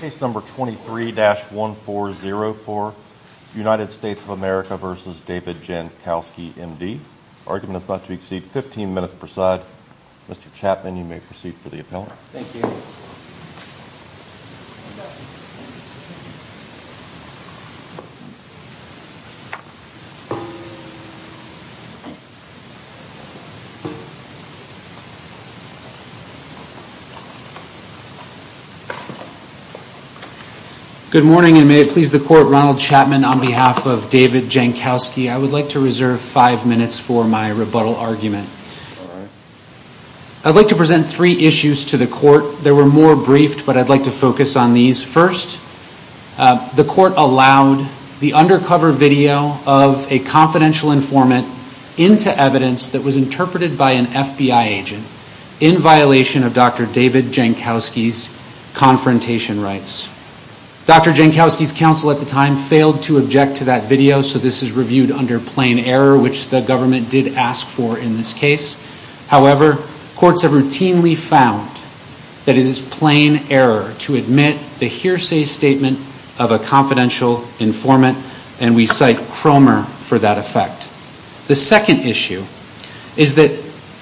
Case number 23-1404, United States of America v. David Jankowski, M.D. Argument is not to exceed 15 minutes per side. Mr. Chapman, you may proceed for the appellant. Thank you. Good morning, and may it please the court, Ronald Chapman, on behalf of David Jankowski, I would like to reserve five minutes for my rebuttal argument. All right. I'd like to present three issues to the court. They were more briefed, but I'd like to focus on these. First, the court allowed the undercover video of a confidential informant into evidence that was interpreted by an FBI agent in violation of Dr. David Jankowski's confrontation rights. Dr. Jankowski's counsel at the time failed to object to that video, so this is reviewed under plain error, which the government did ask for in this case. However, courts have routinely found that it is plain error to admit the hearsay statement of a confidential informant, and we cite Cromer for that effect. The second issue is that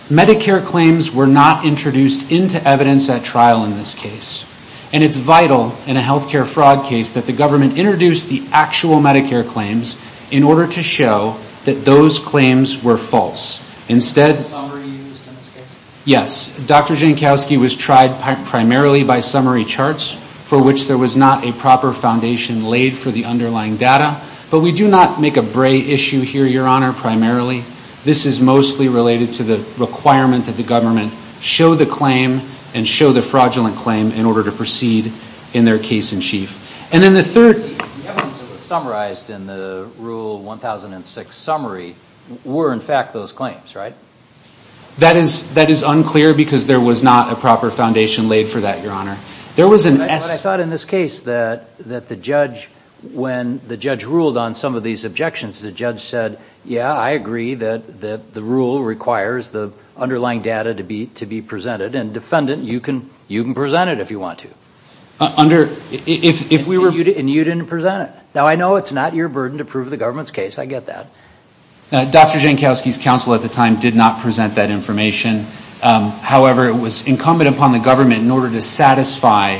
Medicare claims were not introduced into evidence at trial in this case, and it's vital in a healthcare fraud case that the government introduce the actual Medicare claims in order to show that those claims were false. Dr. Jankowski was tried primarily by summary charts, for which there was not a proper foundation laid for the underlying data, but we do not make a bray issue here, Your Honor, primarily. This is mostly related to the requirement that the government show the claim and show the fraudulent claim in order to proceed in their case in chief. The evidence that was summarized in the Rule 1006 summary were in fact those claims, right? That is unclear because there was not a proper foundation laid for that, Your Honor. But I thought in this case that when the judge ruled on some of these objections, the judge said, yeah, I agree that the rule requires the underlying data to be presented, and defendant, you can present it if you want to. And you didn't present it. Now, I know it's not your burden to prove the government's case. I get that. Dr. Jankowski's counsel at the time did not present that information. However, it was incumbent upon the government in order to satisfy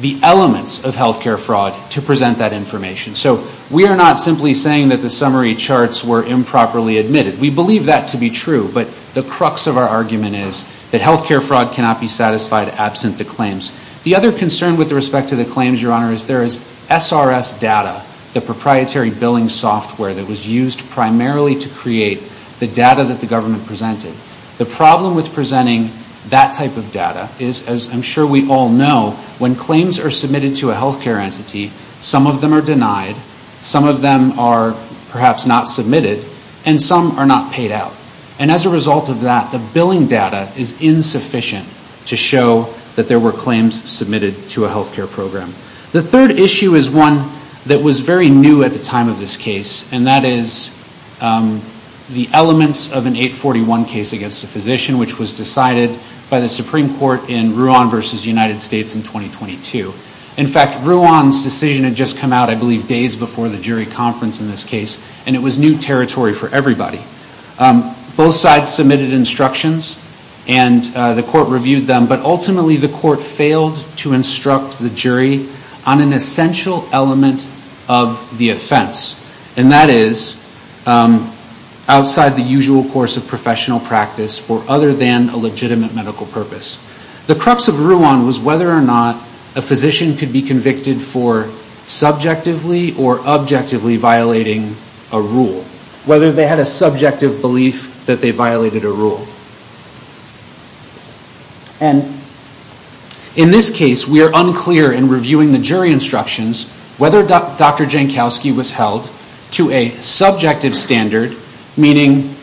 the elements of healthcare fraud to present that information. So we are not simply saying that the summary charts were improperly admitted. We believe that to be true, but the crux of our argument is that healthcare fraud cannot be satisfied absent the claims. The other concern with respect to the claims, Your Honor, is there is SRS data, the proprietary billing software that was used primarily to create the data that the government presented. The problem with presenting that type of data is, as I'm sure we all know, when claims are submitted to a healthcare entity, some of them are denied. Some of them are perhaps not submitted, and some are not paid out. And as a result of that, the billing data is insufficient to show that there were claims submitted to a healthcare program. The third issue is one that was very new at the time of this case, and that is the elements of an 841 case against a physician, which was decided by the Supreme Court in Ruan v. United States in 2022. In fact, Ruan's decision had just come out, I believe, days before the jury conference in this case, and it was new territory for everybody. Both sides submitted instructions, and the court reviewed them, but ultimately the court failed to instruct the jury on an essential element of the offense, and that is outside the usual course of professional practice or other than a legitimate medical purpose. The crux of Ruan was whether or not a physician could be convicted for subjectively or objectively violating a rule, whether they had a subjective belief that they violated a rule. And in this case, we are unclear in reviewing the jury instructions whether Dr. Jankowski was held to a subjective standard, meaning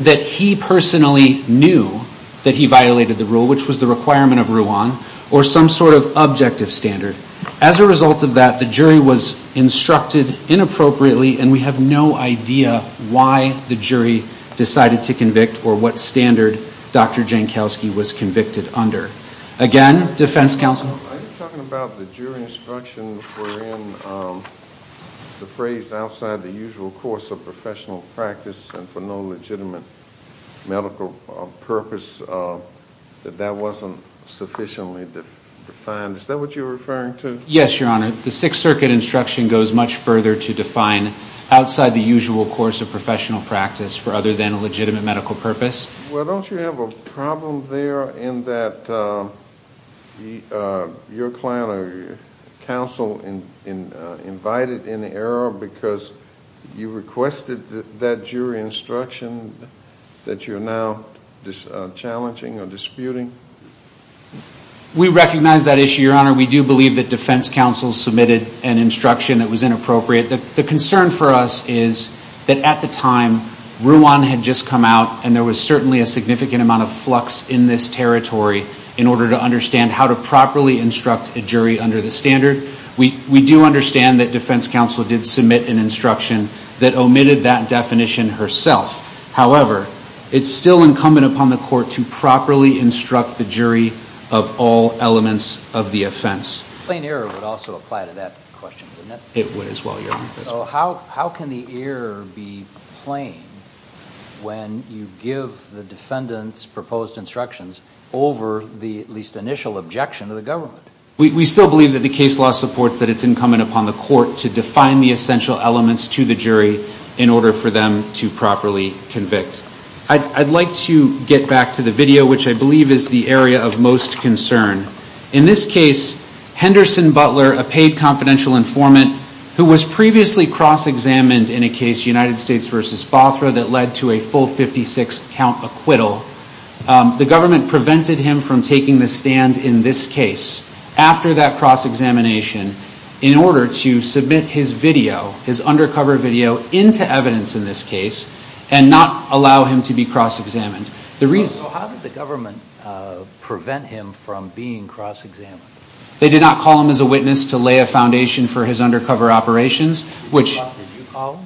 that he personally knew that he violated the rule, which was the requirement of Ruan, or some sort of objective standard. As a result of that, the jury was instructed inappropriately, and we have no idea why the jury decided to convict or what standard Dr. Jankowski was convicted under. Again, defense counsel? Are you talking about the jury instruction wherein the phrase outside the usual course of professional practice and for no legitimate medical purpose, that that wasn't sufficiently defined? Is that what you're referring to? Yes, Your Honor. The Sixth Circuit instruction goes much further to define outside the usual course of professional practice for other than a legitimate medical purpose. Well, don't you have a problem there in that your client or counsel invited an error because you requested that jury instruction that you're now challenging or disputing? We recognize that issue, Your Honor. We do believe that defense counsel submitted an instruction that was inappropriate. The concern for us is that at the time, Ruan had just come out, and there was certainly a significant amount of flux in this territory in order to understand how to properly instruct a jury under the standard. We do understand that defense counsel did submit an instruction that omitted that definition herself. However, it's still incumbent upon the court to properly instruct the jury of all elements of the offense. Plain error would also apply to that question, wouldn't it? It would as well, Your Honor. So how can the error be plain when you give the defendant's proposed instructions over the at least initial objection of the government? We still believe that the case law supports that it's incumbent upon the court to define the essential elements to the jury in order for them to properly convict. I'd like to get back to the video, which I believe is the area of most concern. In this case, Henderson Butler, a paid confidential informant who was previously cross-examined in a case, United States v. Bothra, that led to a full 56-count acquittal, the government prevented him from taking the stand in this case after that cross-examination in order to submit his video, his undercover video, into evidence in this case and not allow him to be cross-examined. So how did the government prevent him from being cross-examined? They did not call him as a witness to lay a foundation for his undercover operations. Did you call him?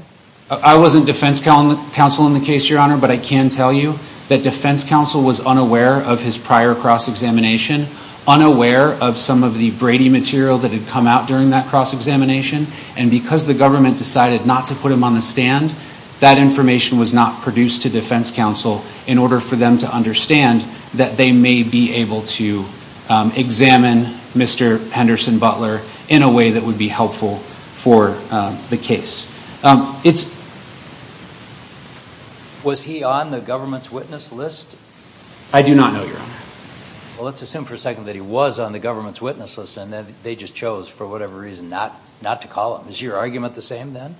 I wasn't defense counsel in the case, Your Honor, but I can tell you that defense counsel was unaware of his prior cross-examination, unaware of some of the Brady material that had come out during that cross-examination, and because the government decided not to put him on the stand, that information was not produced to defense counsel in order for them to understand that they may be able to examine Mr. Henderson Butler in a way that would be helpful for the case. Was he on the government's witness list? I do not know, Your Honor. Well, let's assume for a second that he was on the government's witness list and that they just chose for whatever reason not to call him. Is your argument the same then?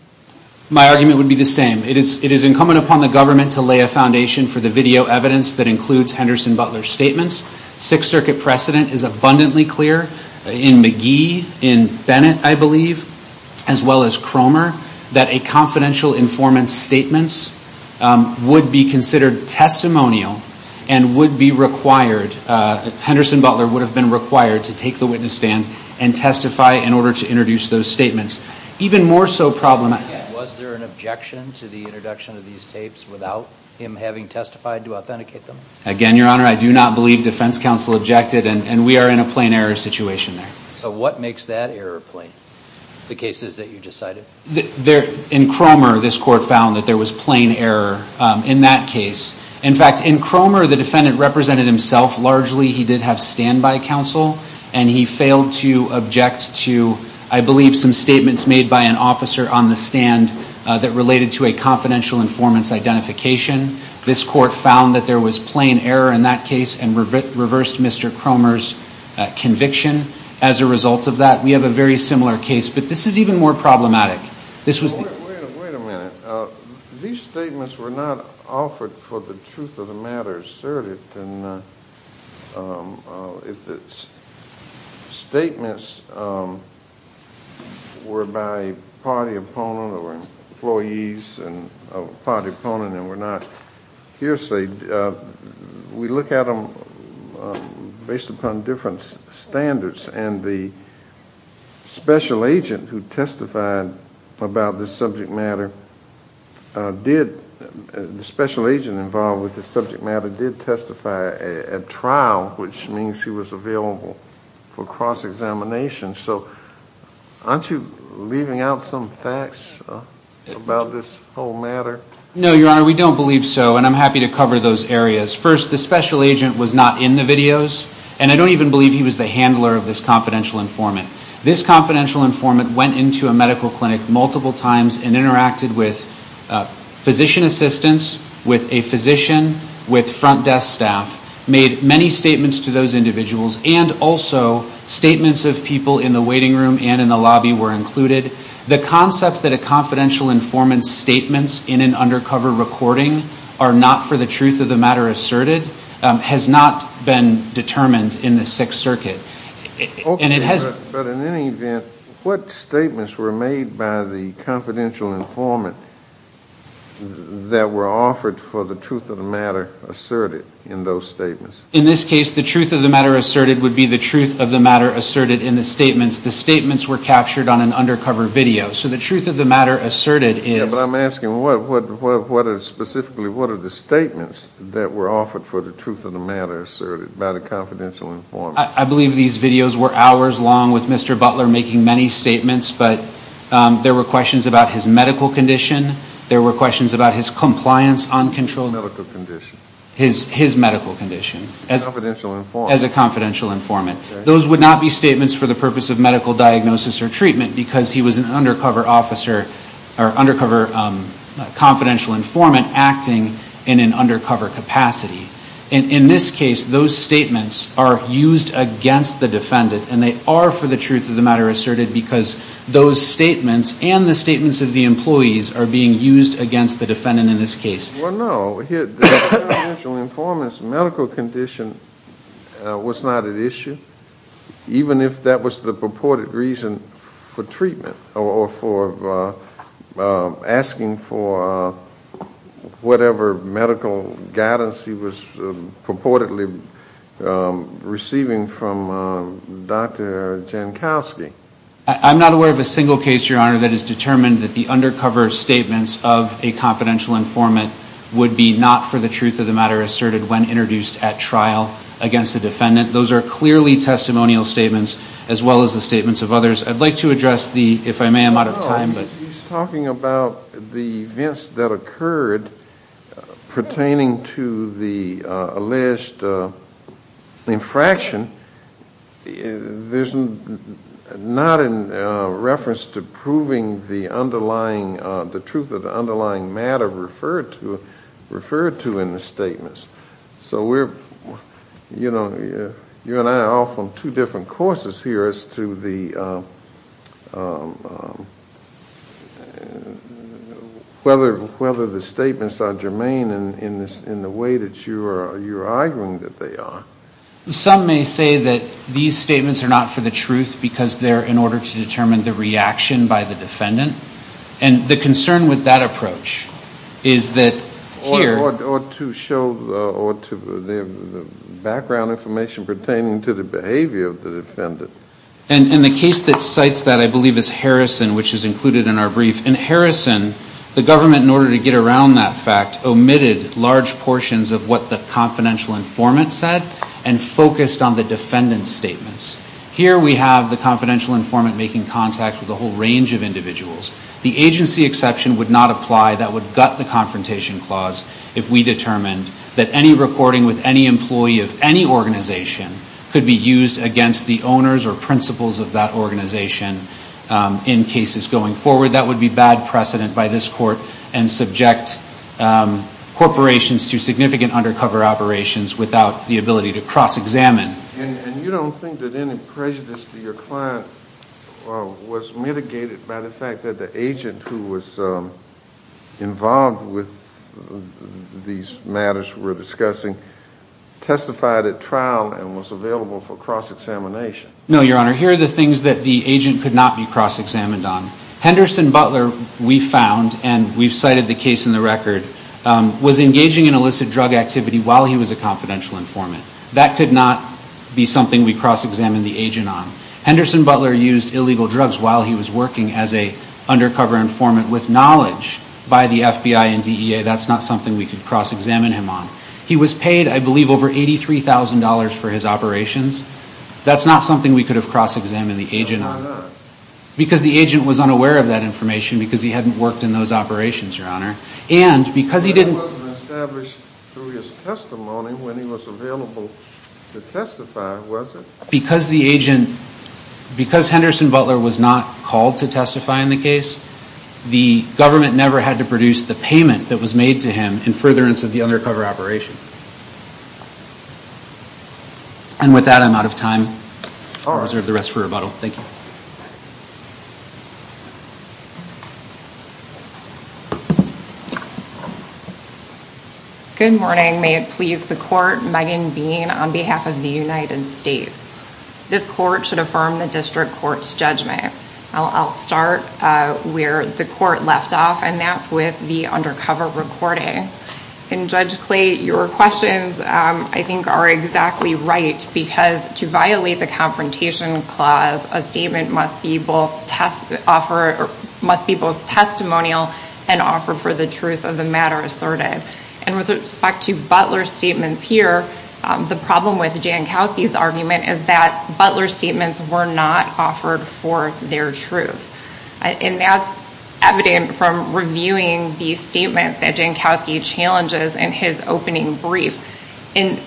My argument would be the same. It is incumbent upon the government to lay a foundation for the video evidence that includes Henderson Butler's statements. Sixth Circuit precedent is abundantly clear in McGee, in Bennett, I believe, as well as Cromer, that a confidential informant's statements would be considered testimonial and would be required, Henderson Butler would have been required to take the witness stand and testify in order to introduce those statements. Even more so, problem was there an objection to the introduction of these tapes without him having testified to authenticate them? Again, Your Honor, I do not believe defense counsel objected, and we are in a plain error situation there. So what makes that error plain, the cases that you just cited? In Cromer, this court found that there was plain error in that case. In fact, in Cromer, the defendant represented himself largely. He did have standby counsel, and he failed to object to, I believe, some statements made by an officer on the stand that related to a confidential informant's identification. This court found that there was plain error in that case and reversed Mr. Cromer's conviction as a result of that. We have a very similar case, but this is even more problematic. Wait a minute. These statements were not offered for the truth of the matter asserted. And if the statements were by a party opponent or employees and a party opponent and were not hearsay, we look at them based upon different standards, and the special agent who testified about this subject matter did, the special agent involved with this subject matter did testify at trial, which means he was available for cross-examination. So aren't you leaving out some facts about this whole matter? No, Your Honor, we don't believe so, and I'm happy to cover those areas. First, the special agent was not in the videos, and I don't even believe he was the handler of this confidential informant. This confidential informant went into a medical clinic multiple times and interacted with physician assistants, with a physician, with front desk staff, made many statements to those individuals, and also statements of people in the waiting room and in the lobby were included. The concept that a confidential informant's statements in an undercover recording are not for the truth of the matter asserted has not been determined in the Sixth Circuit. Okay, but in any event, what statements were made by the confidential informant that were offered for the truth of the matter asserted in those statements? In this case, the truth of the matter asserted would be the truth of the matter asserted in the statements. The statements were captured on an undercover video. So the truth of the matter asserted is... Yes, but I'm asking specifically what are the statements that were offered for the truth of the matter asserted by the confidential informant? I believe these videos were hours long with Mr. Butler making many statements, but there were questions about his medical condition, there were questions about his compliance on controlled... Medical condition. His medical condition. As a confidential informant. As a confidential informant. Okay. Those would not be statements for the purpose of medical diagnosis or treatment because he was an undercover officer or undercover confidential informant acting in an undercover capacity. In this case, those statements are used against the defendant and they are for the truth of the matter asserted because those statements and the statements of the employees are being used against the defendant in this case. Well, no. The confidential informant's medical condition was not at issue, even if that was the purported reason for treatment or for asking for whatever medical guidance he was purportedly receiving from Dr. Jankowski. I'm not aware of a single case, Your Honor, that has determined that the undercover statements of a confidential informant would be not for the truth of the matter asserted when introduced at trial against the defendant. Those are clearly testimonial statements as well as the statements of others. I'd like to address the, if I may, I'm out of time. He's talking about the events that occurred pertaining to the alleged infraction. There's not a reference to proving the underlying, the truth of the underlying matter referred to in the statements. So we're, you know, you and I are off on two different courses here as to whether the statements are germane in the way that you're arguing that they are. Some may say that these statements are not for the truth because they're in order to determine the reaction by the defendant. And the concern with that approach is that here— Or to show the background information pertaining to the behavior of the defendant. And the case that cites that, I believe, is Harrison, which is included in our brief. In Harrison, the government, in order to get around that fact, omitted large portions of what the confidential informant said and focused on the defendant's statements. Here we have the confidential informant making contact with a whole range of individuals. The agency exception would not apply. That would gut the confrontation clause if we determined that any recording with any employee of any organization could be used against the owners or principals of that organization in cases going forward. That would be bad precedent by this Court and subject corporations to significant undercover operations without the ability to cross-examine. And you don't think that any prejudice to your client was mitigated by the fact that the agent who was involved with these matters we're discussing testified at trial and was available for cross-examination? No, Your Honor. Here are the things that the agent could not be cross-examined on. Henderson Butler, we found, and we've cited the case in the record, was engaging in illicit drug activity while he was a confidential informant. That could not be something we cross-examined the agent on. Henderson Butler used illegal drugs while he was working as an undercover informant with knowledge by the FBI and DEA. That's not something we could cross-examine him on. He was paid, I believe, over $83,000 for his operations. That's not something we could have cross-examined the agent on. Why not? Because the agent was unaware of that information because he hadn't worked in those operations, Your Honor. And because he didn't... That wasn't established through his testimony when he was available to testify, was it? Because the agent... Because Henderson Butler was not called to testify in the case, the government never had to produce the payment that was made to him in furtherance of the undercover operation. And with that, I'm out of time. I'll reserve the rest for rebuttal. Thank you. Good morning. May it please the court, Megan Bean on behalf of the United States. This court should affirm the district court's judgment. I'll start where the court left off, and that's with the undercover recording. And Judge Clay, your questions, I think, are exactly right because to violate the Confrontation Clause, a statement must be both testimonial and offer for the truth of the matter asserted. And with respect to Butler's statements here, the problem with Jankowski's argument is that Butler's statements were not offered for their truth. And that's evident from reviewing the statements that Jankowski challenges in his opening brief. And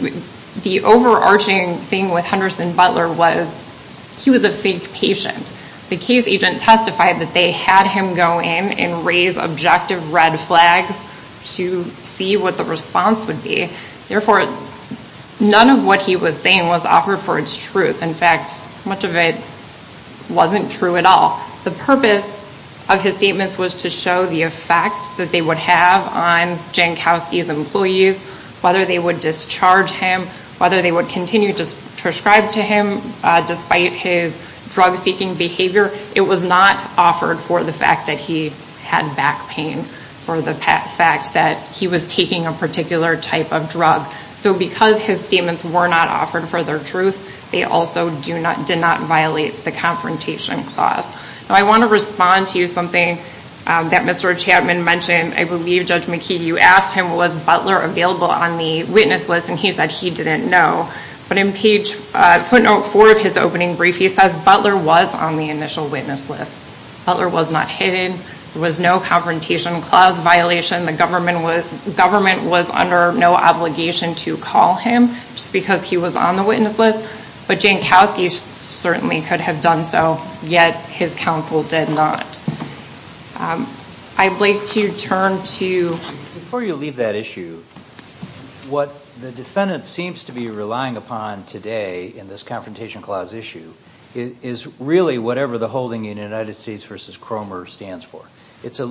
the overarching thing with Henderson Butler was he was a fake patient. The case agent testified that they had him go in and raise objective red flags to see what the response would be. Therefore, none of what he was saying was offered for its truth. In fact, much of it wasn't true at all. The purpose of his statements was to show the effect that they would have on Jankowski's employees, whether they would discharge him, whether they would continue to prescribe to him, despite his drug-seeking behavior. It was not offered for the fact that he had back pain, for the fact that he was taking a particular type of drug. So because his statements were not offered for their truth, they also did not violate the Confrontation Clause. Now I want to respond to something that Mr. Chapman mentioned. I believe, Judge McKee, you asked him was Butler available on the witness list, and he said he didn't know. But in footnote 4 of his opening brief, he says Butler was on the initial witness list. Butler was not hidden. There was no Confrontation Clause violation. The government was under no obligation to call him just because he was on the witness list. But Jankowski certainly could have done so, yet his counsel did not. I'd like to turn to you. Before you leave that issue, what the defendant seems to be relying upon today in this Confrontation Clause issue is really whatever the holding in United States v. Cromer stands for. It's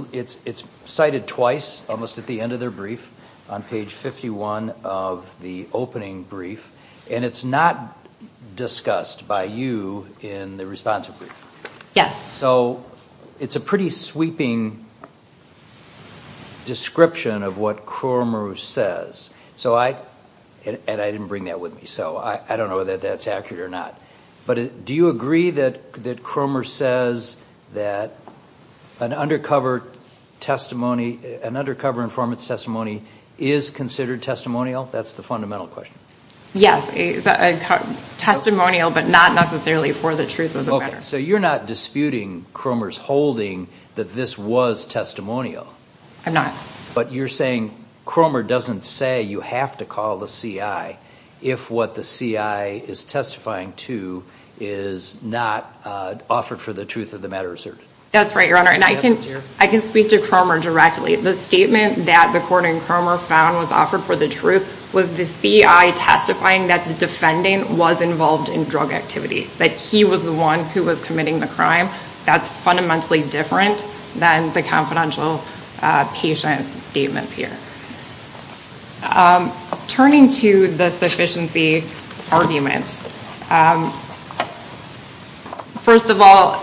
cited twice, almost at the end of their brief, on page 51 of the opening brief, and it's not discussed by you in the response brief. Yes. So it's a pretty sweeping description of what Cromer says. And I didn't bring that with me, so I don't know whether that's accurate or not. But do you agree that Cromer says that an undercover informant's testimony is considered testimonial? That's the fundamental question. Yes, it's testimonial, but not necessarily for the truth of the matter. So you're not disputing Cromer's holding that this was testimonial? I'm not. But you're saying Cromer doesn't say you have to call the CI if what the CI is testifying to is not offered for the truth of the matter asserted? That's right, Your Honor, and I can speak to Cromer directly. The statement that the court in Cromer found was offered for the truth was the CI testifying that the defendant was involved in drug activity, that he was the one who was committing the crime. That's fundamentally different than the confidential patient's statements here. Turning to the sufficiency arguments, first of all,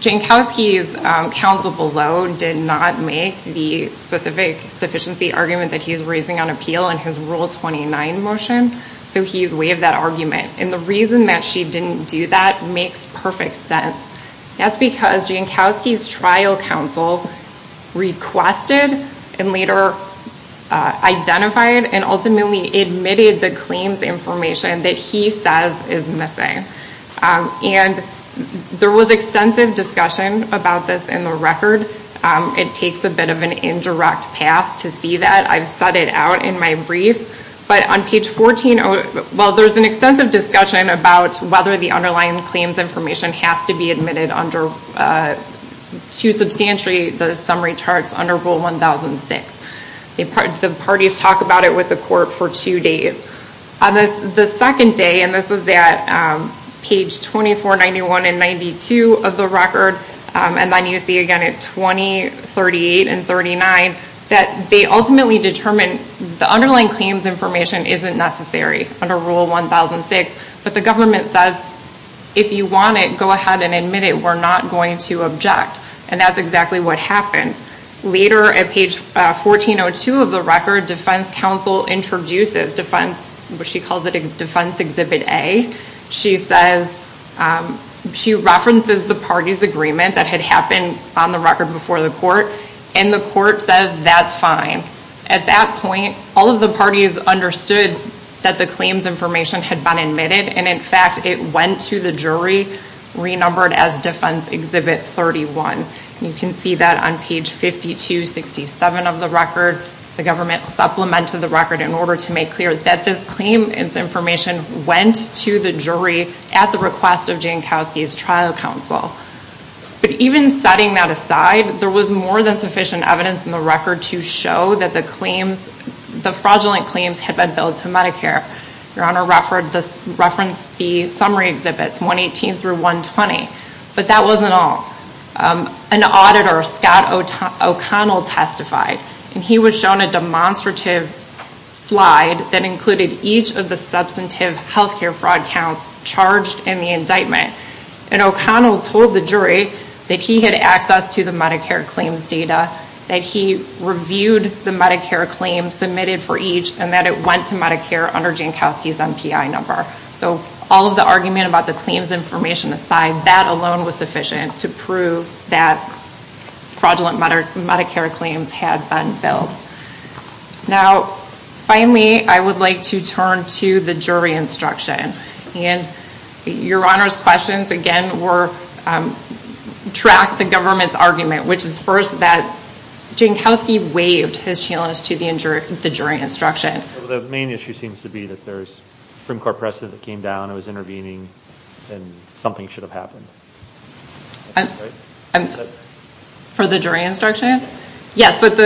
Jankowski's counsel below did not make the specific sufficiency argument that he's raising on appeal in his Rule 29 motion, so he's waived that argument. And the reason that she didn't do that makes perfect sense. That's because Jankowski's trial counsel requested and later identified and ultimately admitted the claims information that he says is missing. And there was extensive discussion about this in the record. It takes a bit of an indirect path to see that. I've set it out in my briefs. There's an extensive discussion about whether the underlying claims information has to be admitted under Rule 1006. The parties talk about it with the court for two days. On the second day, and this was at page 2491 and 92 of the record, and then you see again at 20, 38, and 39, that they ultimately determined the underlying claims information isn't necessary under Rule 1006, but the government says, if you want it, go ahead and admit it. We're not going to object. And that's exactly what happened. Later at page 1402 of the record, defense counsel introduces, she calls it Defense Exhibit A. She references the parties' agreement that had happened on the record before the court, and the court says that's fine. At that point, all of the parties understood that the claims information had been admitted, and in fact it went to the jury, renumbered as Defense Exhibit 31. You can see that on page 5267 of the record. The government supplemented the record in order to make clear that this claim, its information went to the jury at the request of Jankowski's trial counsel. But even setting that aside, there was more than sufficient evidence in the record to show that the fraudulent claims had been billed to Medicare. Your Honor referenced the summary exhibits, 118 through 120, but that wasn't all. An auditor, Scott O'Connell, testified, and he was shown a demonstrative slide that included each of the substantive health care fraud counts charged in the indictment. And O'Connell told the jury that he had access to the Medicare claims data, that he reviewed the Medicare claims submitted for each, and that it went to Medicare under Jankowski's MPI number. So all of the argument about the claims information aside, that alone was sufficient to prove that fraudulent Medicare claims had been billed. Now, finally, I would like to turn to the jury instruction. Your Honor's questions, again, track the government's argument, which is first that Jankowski waived his challenge to the jury instruction. The main issue seems to be that there's a Supreme Court precedent that came down, it was intervening, and something should have happened. For the jury instruction? Yes, but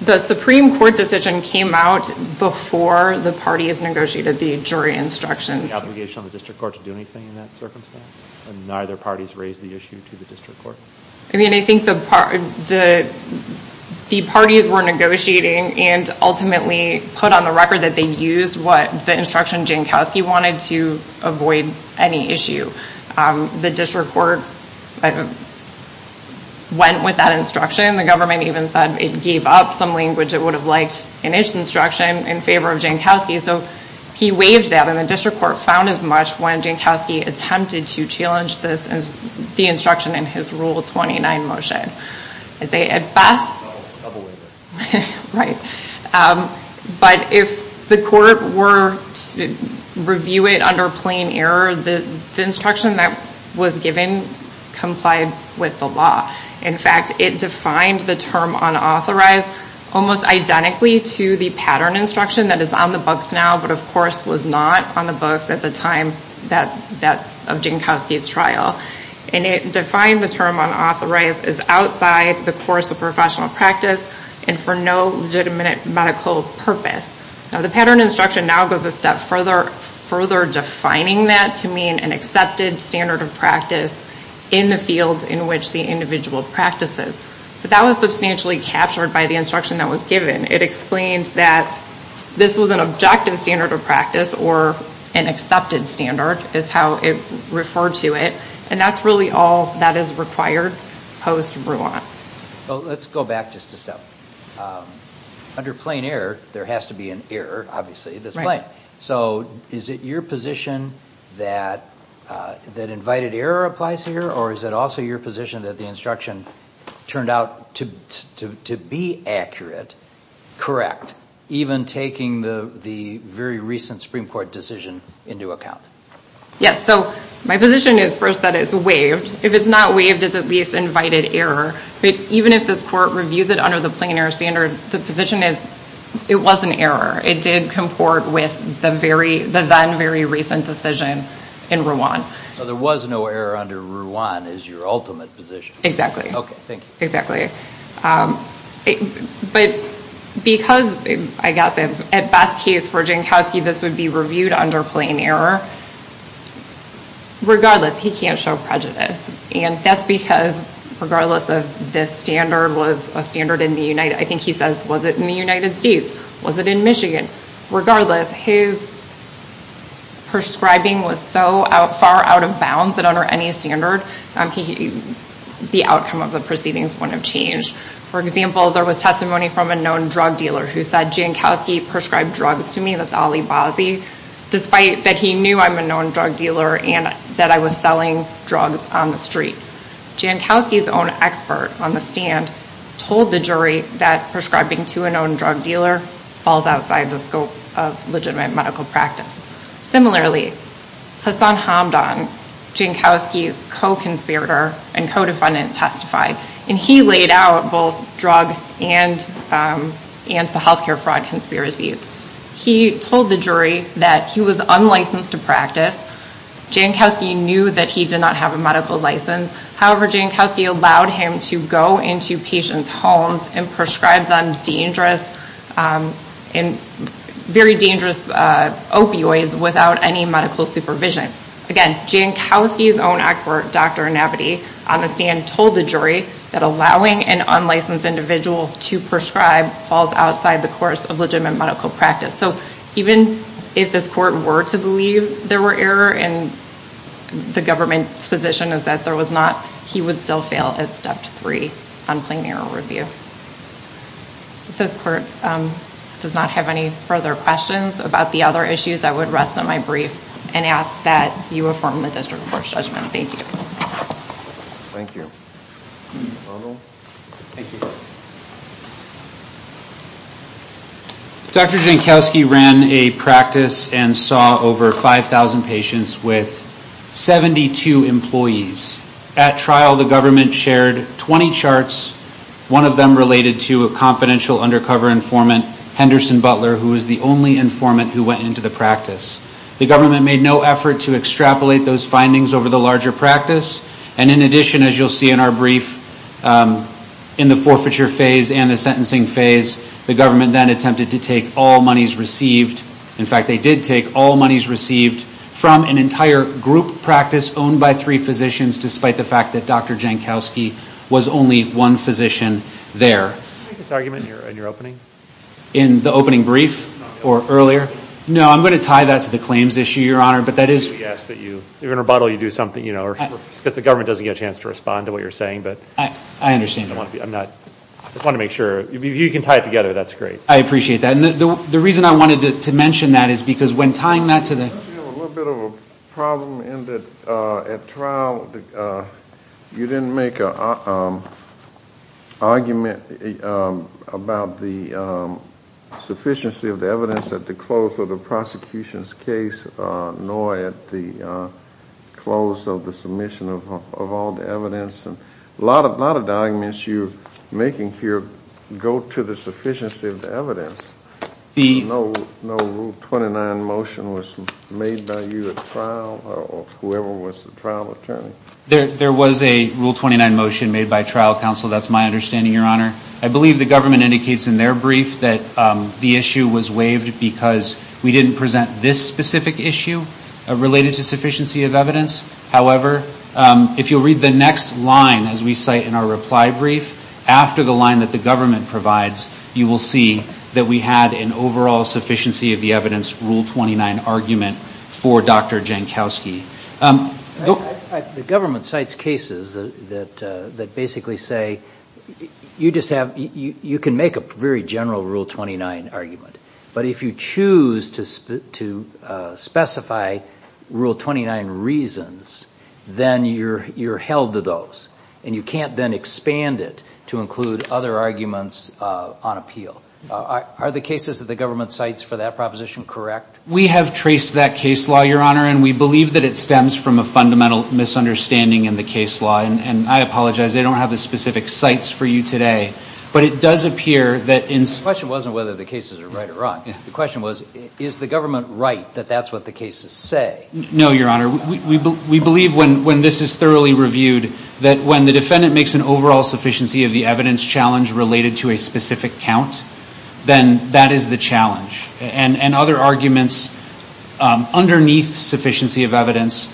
the Supreme Court decision came out before the parties negotiated the jury instructions. Was there an obligation on the district court to do anything in that circumstance? Neither parties raised the issue to the district court? I mean, I think the parties were negotiating and ultimately put on the record that they used what the instruction Jankowski wanted to avoid any issue. The district court went with that instruction. The government even said it gave up some language it would have liked in its instruction in favor of Jankowski. So he waived that, and the district court found as much when Jankowski attempted to challenge the instruction in his Rule 29 motion. But if the court were to review it under plain error, the instruction that was given complied with the law. In fact, it defined the term unauthorized almost identically to the pattern instruction that is on the books now, but of course was not on the books at the time of Jankowski's trial. And it defined the term unauthorized as outside the course of professional practice and for no legitimate medical purpose. Now the pattern instruction now goes a step further, further defining that to mean an accepted standard of practice in the field in which the individual practices. But that was substantially captured by the instruction that was given. It explains that this was an objective standard of practice or an accepted standard is how it referred to it. And that's really all that is required post-Bruant. Let's go back just a step. Under plain error, there has to be an error, obviously. So is it your position that invited error applies here, or is it also your position that the instruction turned out to be accurate, correct, even taking the very recent Supreme Court decision into account? Yes, so my position is first that it's waived. If it's not waived, it's at least invited error. But even if this court reviews it under the plain error standard, the position is it was an error. It did comport with the then very recent decision in Rouen. So there was no error under Rouen is your ultimate position. Okay, thank you. But because, I guess, at best case for Jankowski, this would be reviewed under plain error, regardless, he can't show prejudice. And that's because, regardless of this standard was a standard in the United States, I think he says, was it in the United States? Was it in Michigan? Regardless, his prescribing was so far out of bounds that under any standard, the outcome of the proceedings wouldn't have changed. For example, there was testimony from a known drug dealer who said, Jankowski prescribed drugs to me, that's Ali Bazzi, despite that he knew I'm a known drug dealer and that I was selling drugs on the street. Jankowski's own expert on the stand told the jury that prescribing to a known drug dealer falls outside the scope of legitimate medical practice. Similarly, Hassan Hamdan, Jankowski's co-conspirator and co-defendant testified, and he laid out both drug and the healthcare fraud conspiracies. He told the jury that he was unlicensed to practice. Jankowski knew that he did not have a medical license. However, Jankowski allowed him to go into patients' homes and prescribe them dangerous, very dangerous opioids without any medical supervision. Again, Jankowski's own expert, Dr. Nabadi on the stand, told the jury that allowing an unlicensed individual to prescribe falls outside the course of legitimate medical practice. So even if this court were to believe there were error, and the government's position is that there was not, he would still fail at step three on plain error review. If this court does not have any further questions about the other issues, I would rest on my brief and ask that you affirm the district court's judgment. Thank you. Thank you. Arnold. Thank you. Dr. Jankowski ran a practice and saw over 5,000 patients with 72 employees. At trial, the government shared 20 charts, one of them related to a confidential undercover informant, Henderson Butler, who was the only informant who went into the practice. The government made no effort to extrapolate those findings over the larger practice, and in addition, as you'll see in our brief, in the forfeiture phase and the sentencing phase, the government then attempted to take all monies received. In fact, they did take all monies received from an entire group practice owned by three physicians, despite the fact that Dr. Jankowski was only one physician there. Did you make this argument in your opening? In the opening brief or earlier? No, I'm going to tie that to the claims issue, Your Honor, but that is. We ask that you, if you're going to rebuttal, you do something, you know, because the government doesn't get a chance to respond to what you're saying, but. I understand. I just want to make sure. If you can tie it together, that's great. I appreciate that. And the reason I wanted to mention that is because when tying that to the. We have a little bit of a problem in that at trial, you didn't make an argument about the sufficiency of the evidence at the close of the prosecution's case, nor at the close of the submission of all the evidence. A lot of the arguments you're making here go to the sufficiency of the evidence. No Rule 29 motion was made by you at trial or whoever was the trial attorney? There was a Rule 29 motion made by trial counsel. That's my understanding, Your Honor. I believe the government indicates in their brief that the issue was waived because we didn't present this specific issue related to sufficiency of evidence. However, if you'll read the next line as we cite in our reply brief, after the line that the government provides, you will see that we had an overall sufficiency of the evidence Rule 29 argument for Dr. Jankowski. The government cites cases that basically say you can make a very general Rule 29 argument, but if you choose to specify Rule 29 reasons, then you're held to those, and you can't then expand it to include other arguments on appeal. Are the cases that the government cites for that proposition correct? We have traced that case law, Your Honor, and we believe that it stems from a fundamental misunderstanding in the case law, and I apologize, they don't have the specific cites for you today, but it does appear that in... The question wasn't whether the cases are right or wrong. The question was, is the government right that that's what the cases say? No, Your Honor. We believe when this is thoroughly reviewed, that when the defendant makes an overall sufficiency of the evidence challenge related to a specific count, then that is the challenge, and other arguments underneath sufficiency of evidence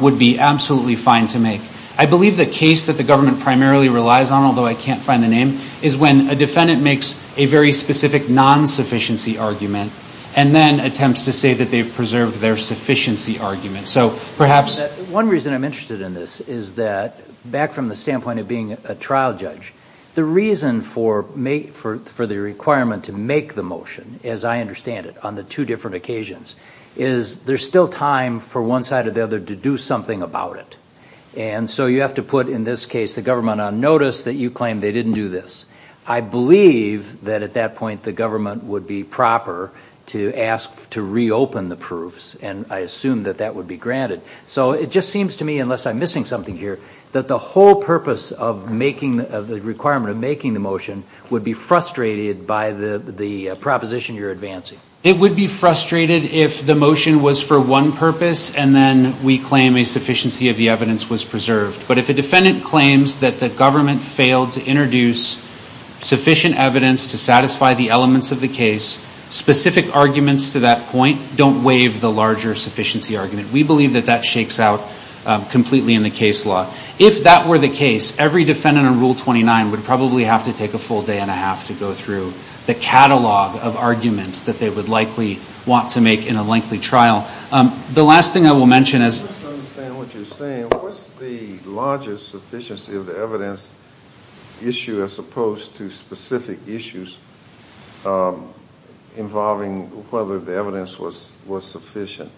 would be absolutely fine to make. I believe the case that the government primarily relies on, although I can't find the name, is when a defendant makes a very specific non-sufficiency argument, and then attempts to say that they've preserved their sufficiency argument. So perhaps... One reason I'm interested in this is that, back from the standpoint of being a trial judge, the reason for the requirement to make the motion, as I understand it, on the two different occasions, is there's still time for one side or the other to do something about it. And so you have to put, in this case, the government on notice that you claim they didn't do this. I believe that at that point the government would be proper to ask to reopen the proofs, and I assume that that would be granted. So it just seems to me, unless I'm missing something here, that the whole purpose of the requirement of making the motion would be frustrated by the proposition you're advancing. It would be frustrated if the motion was for one purpose, and then we claim a sufficiency of the evidence was preserved. But if a defendant claims that the government failed to introduce sufficient evidence to satisfy the elements of the case, specific arguments to that point don't waive the larger sufficiency argument. We believe that that shakes out completely in the case law. If that were the case, every defendant on Rule 29 would probably have to take a full day and a half to go through the catalog of arguments that they would likely want to make in a lengthy trial. The last thing I will mention is... I don't understand what you're saying. What's the larger sufficiency of the evidence issue as opposed to specific issues involving whether the evidence was sufficient?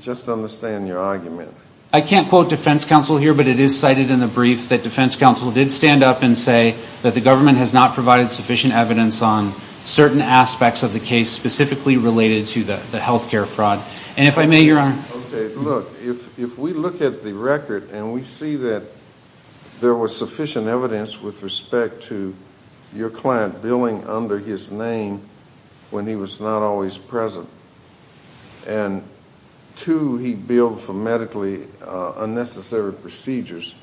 Just to understand your argument. I can't quote defense counsel here, but it is cited in the brief that defense counsel did stand up and say that the government has not provided sufficient evidence on certain aspects of the case specifically related to the health care fraud. If we look at the record and we see that there was sufficient evidence with respect to your client billing under his name when he was not always present, and two, he billed for medically unnecessary procedures,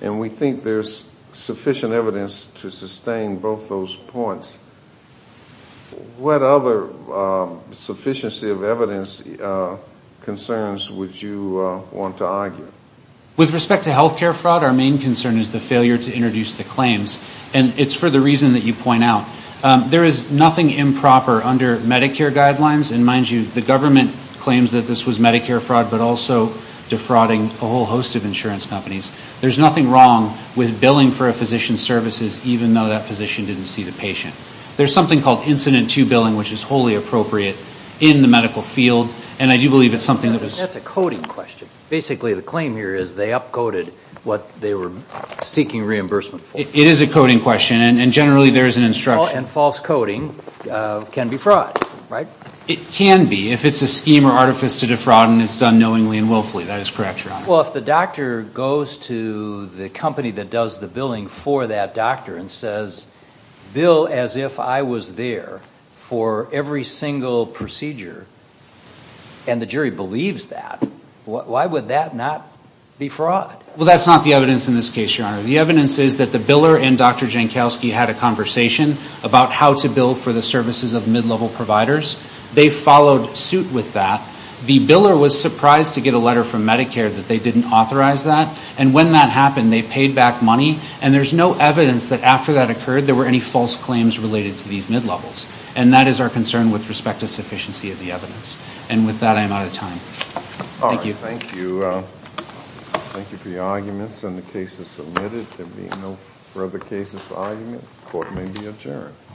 and we think there's sufficient evidence to sustain both those points. What other sufficiency of evidence concerns would you want to argue? With respect to health care fraud, our main concern is the failure to introduce the claims, and it's for the reason that you point out. There is nothing improper under Medicare guidelines, and mind you, the government claims that this was Medicare fraud, but also defrauding a whole host of insurance companies. There's nothing wrong with billing for a physician's services even though that physician didn't see the patient. There's something called incident-to-billing, which is wholly appropriate in the medical field, and I do believe it's something that was- That's a coding question. Basically, the claim here is they up-coded what they were seeking reimbursement for. It is a coding question, and generally there is an instruction- And false coding can be fraud, right? It can be if it's a scheme or artifice to defraud and it's done knowingly and willfully. That is correct, Your Honor. Well, if the doctor goes to the company that does the billing for that doctor and says, bill as if I was there for every single procedure, and the jury believes that, why would that not be fraud? Well, that's not the evidence in this case, Your Honor. The evidence is that the biller and Dr. Jankowski had a conversation about how to bill for the services of mid-level providers. They followed suit with that. The biller was surprised to get a letter from Medicare that they didn't authorize that, and when that happened, they paid back money, and there's no evidence that after that occurred there were any false claims related to these mid-levels, and that is our concern with respect to sufficiency of the evidence. And with that, I am out of time. Thank you. Thank you. Thank you for your arguments, and the case is submitted. There being no further cases for argument, the court may be adjourned.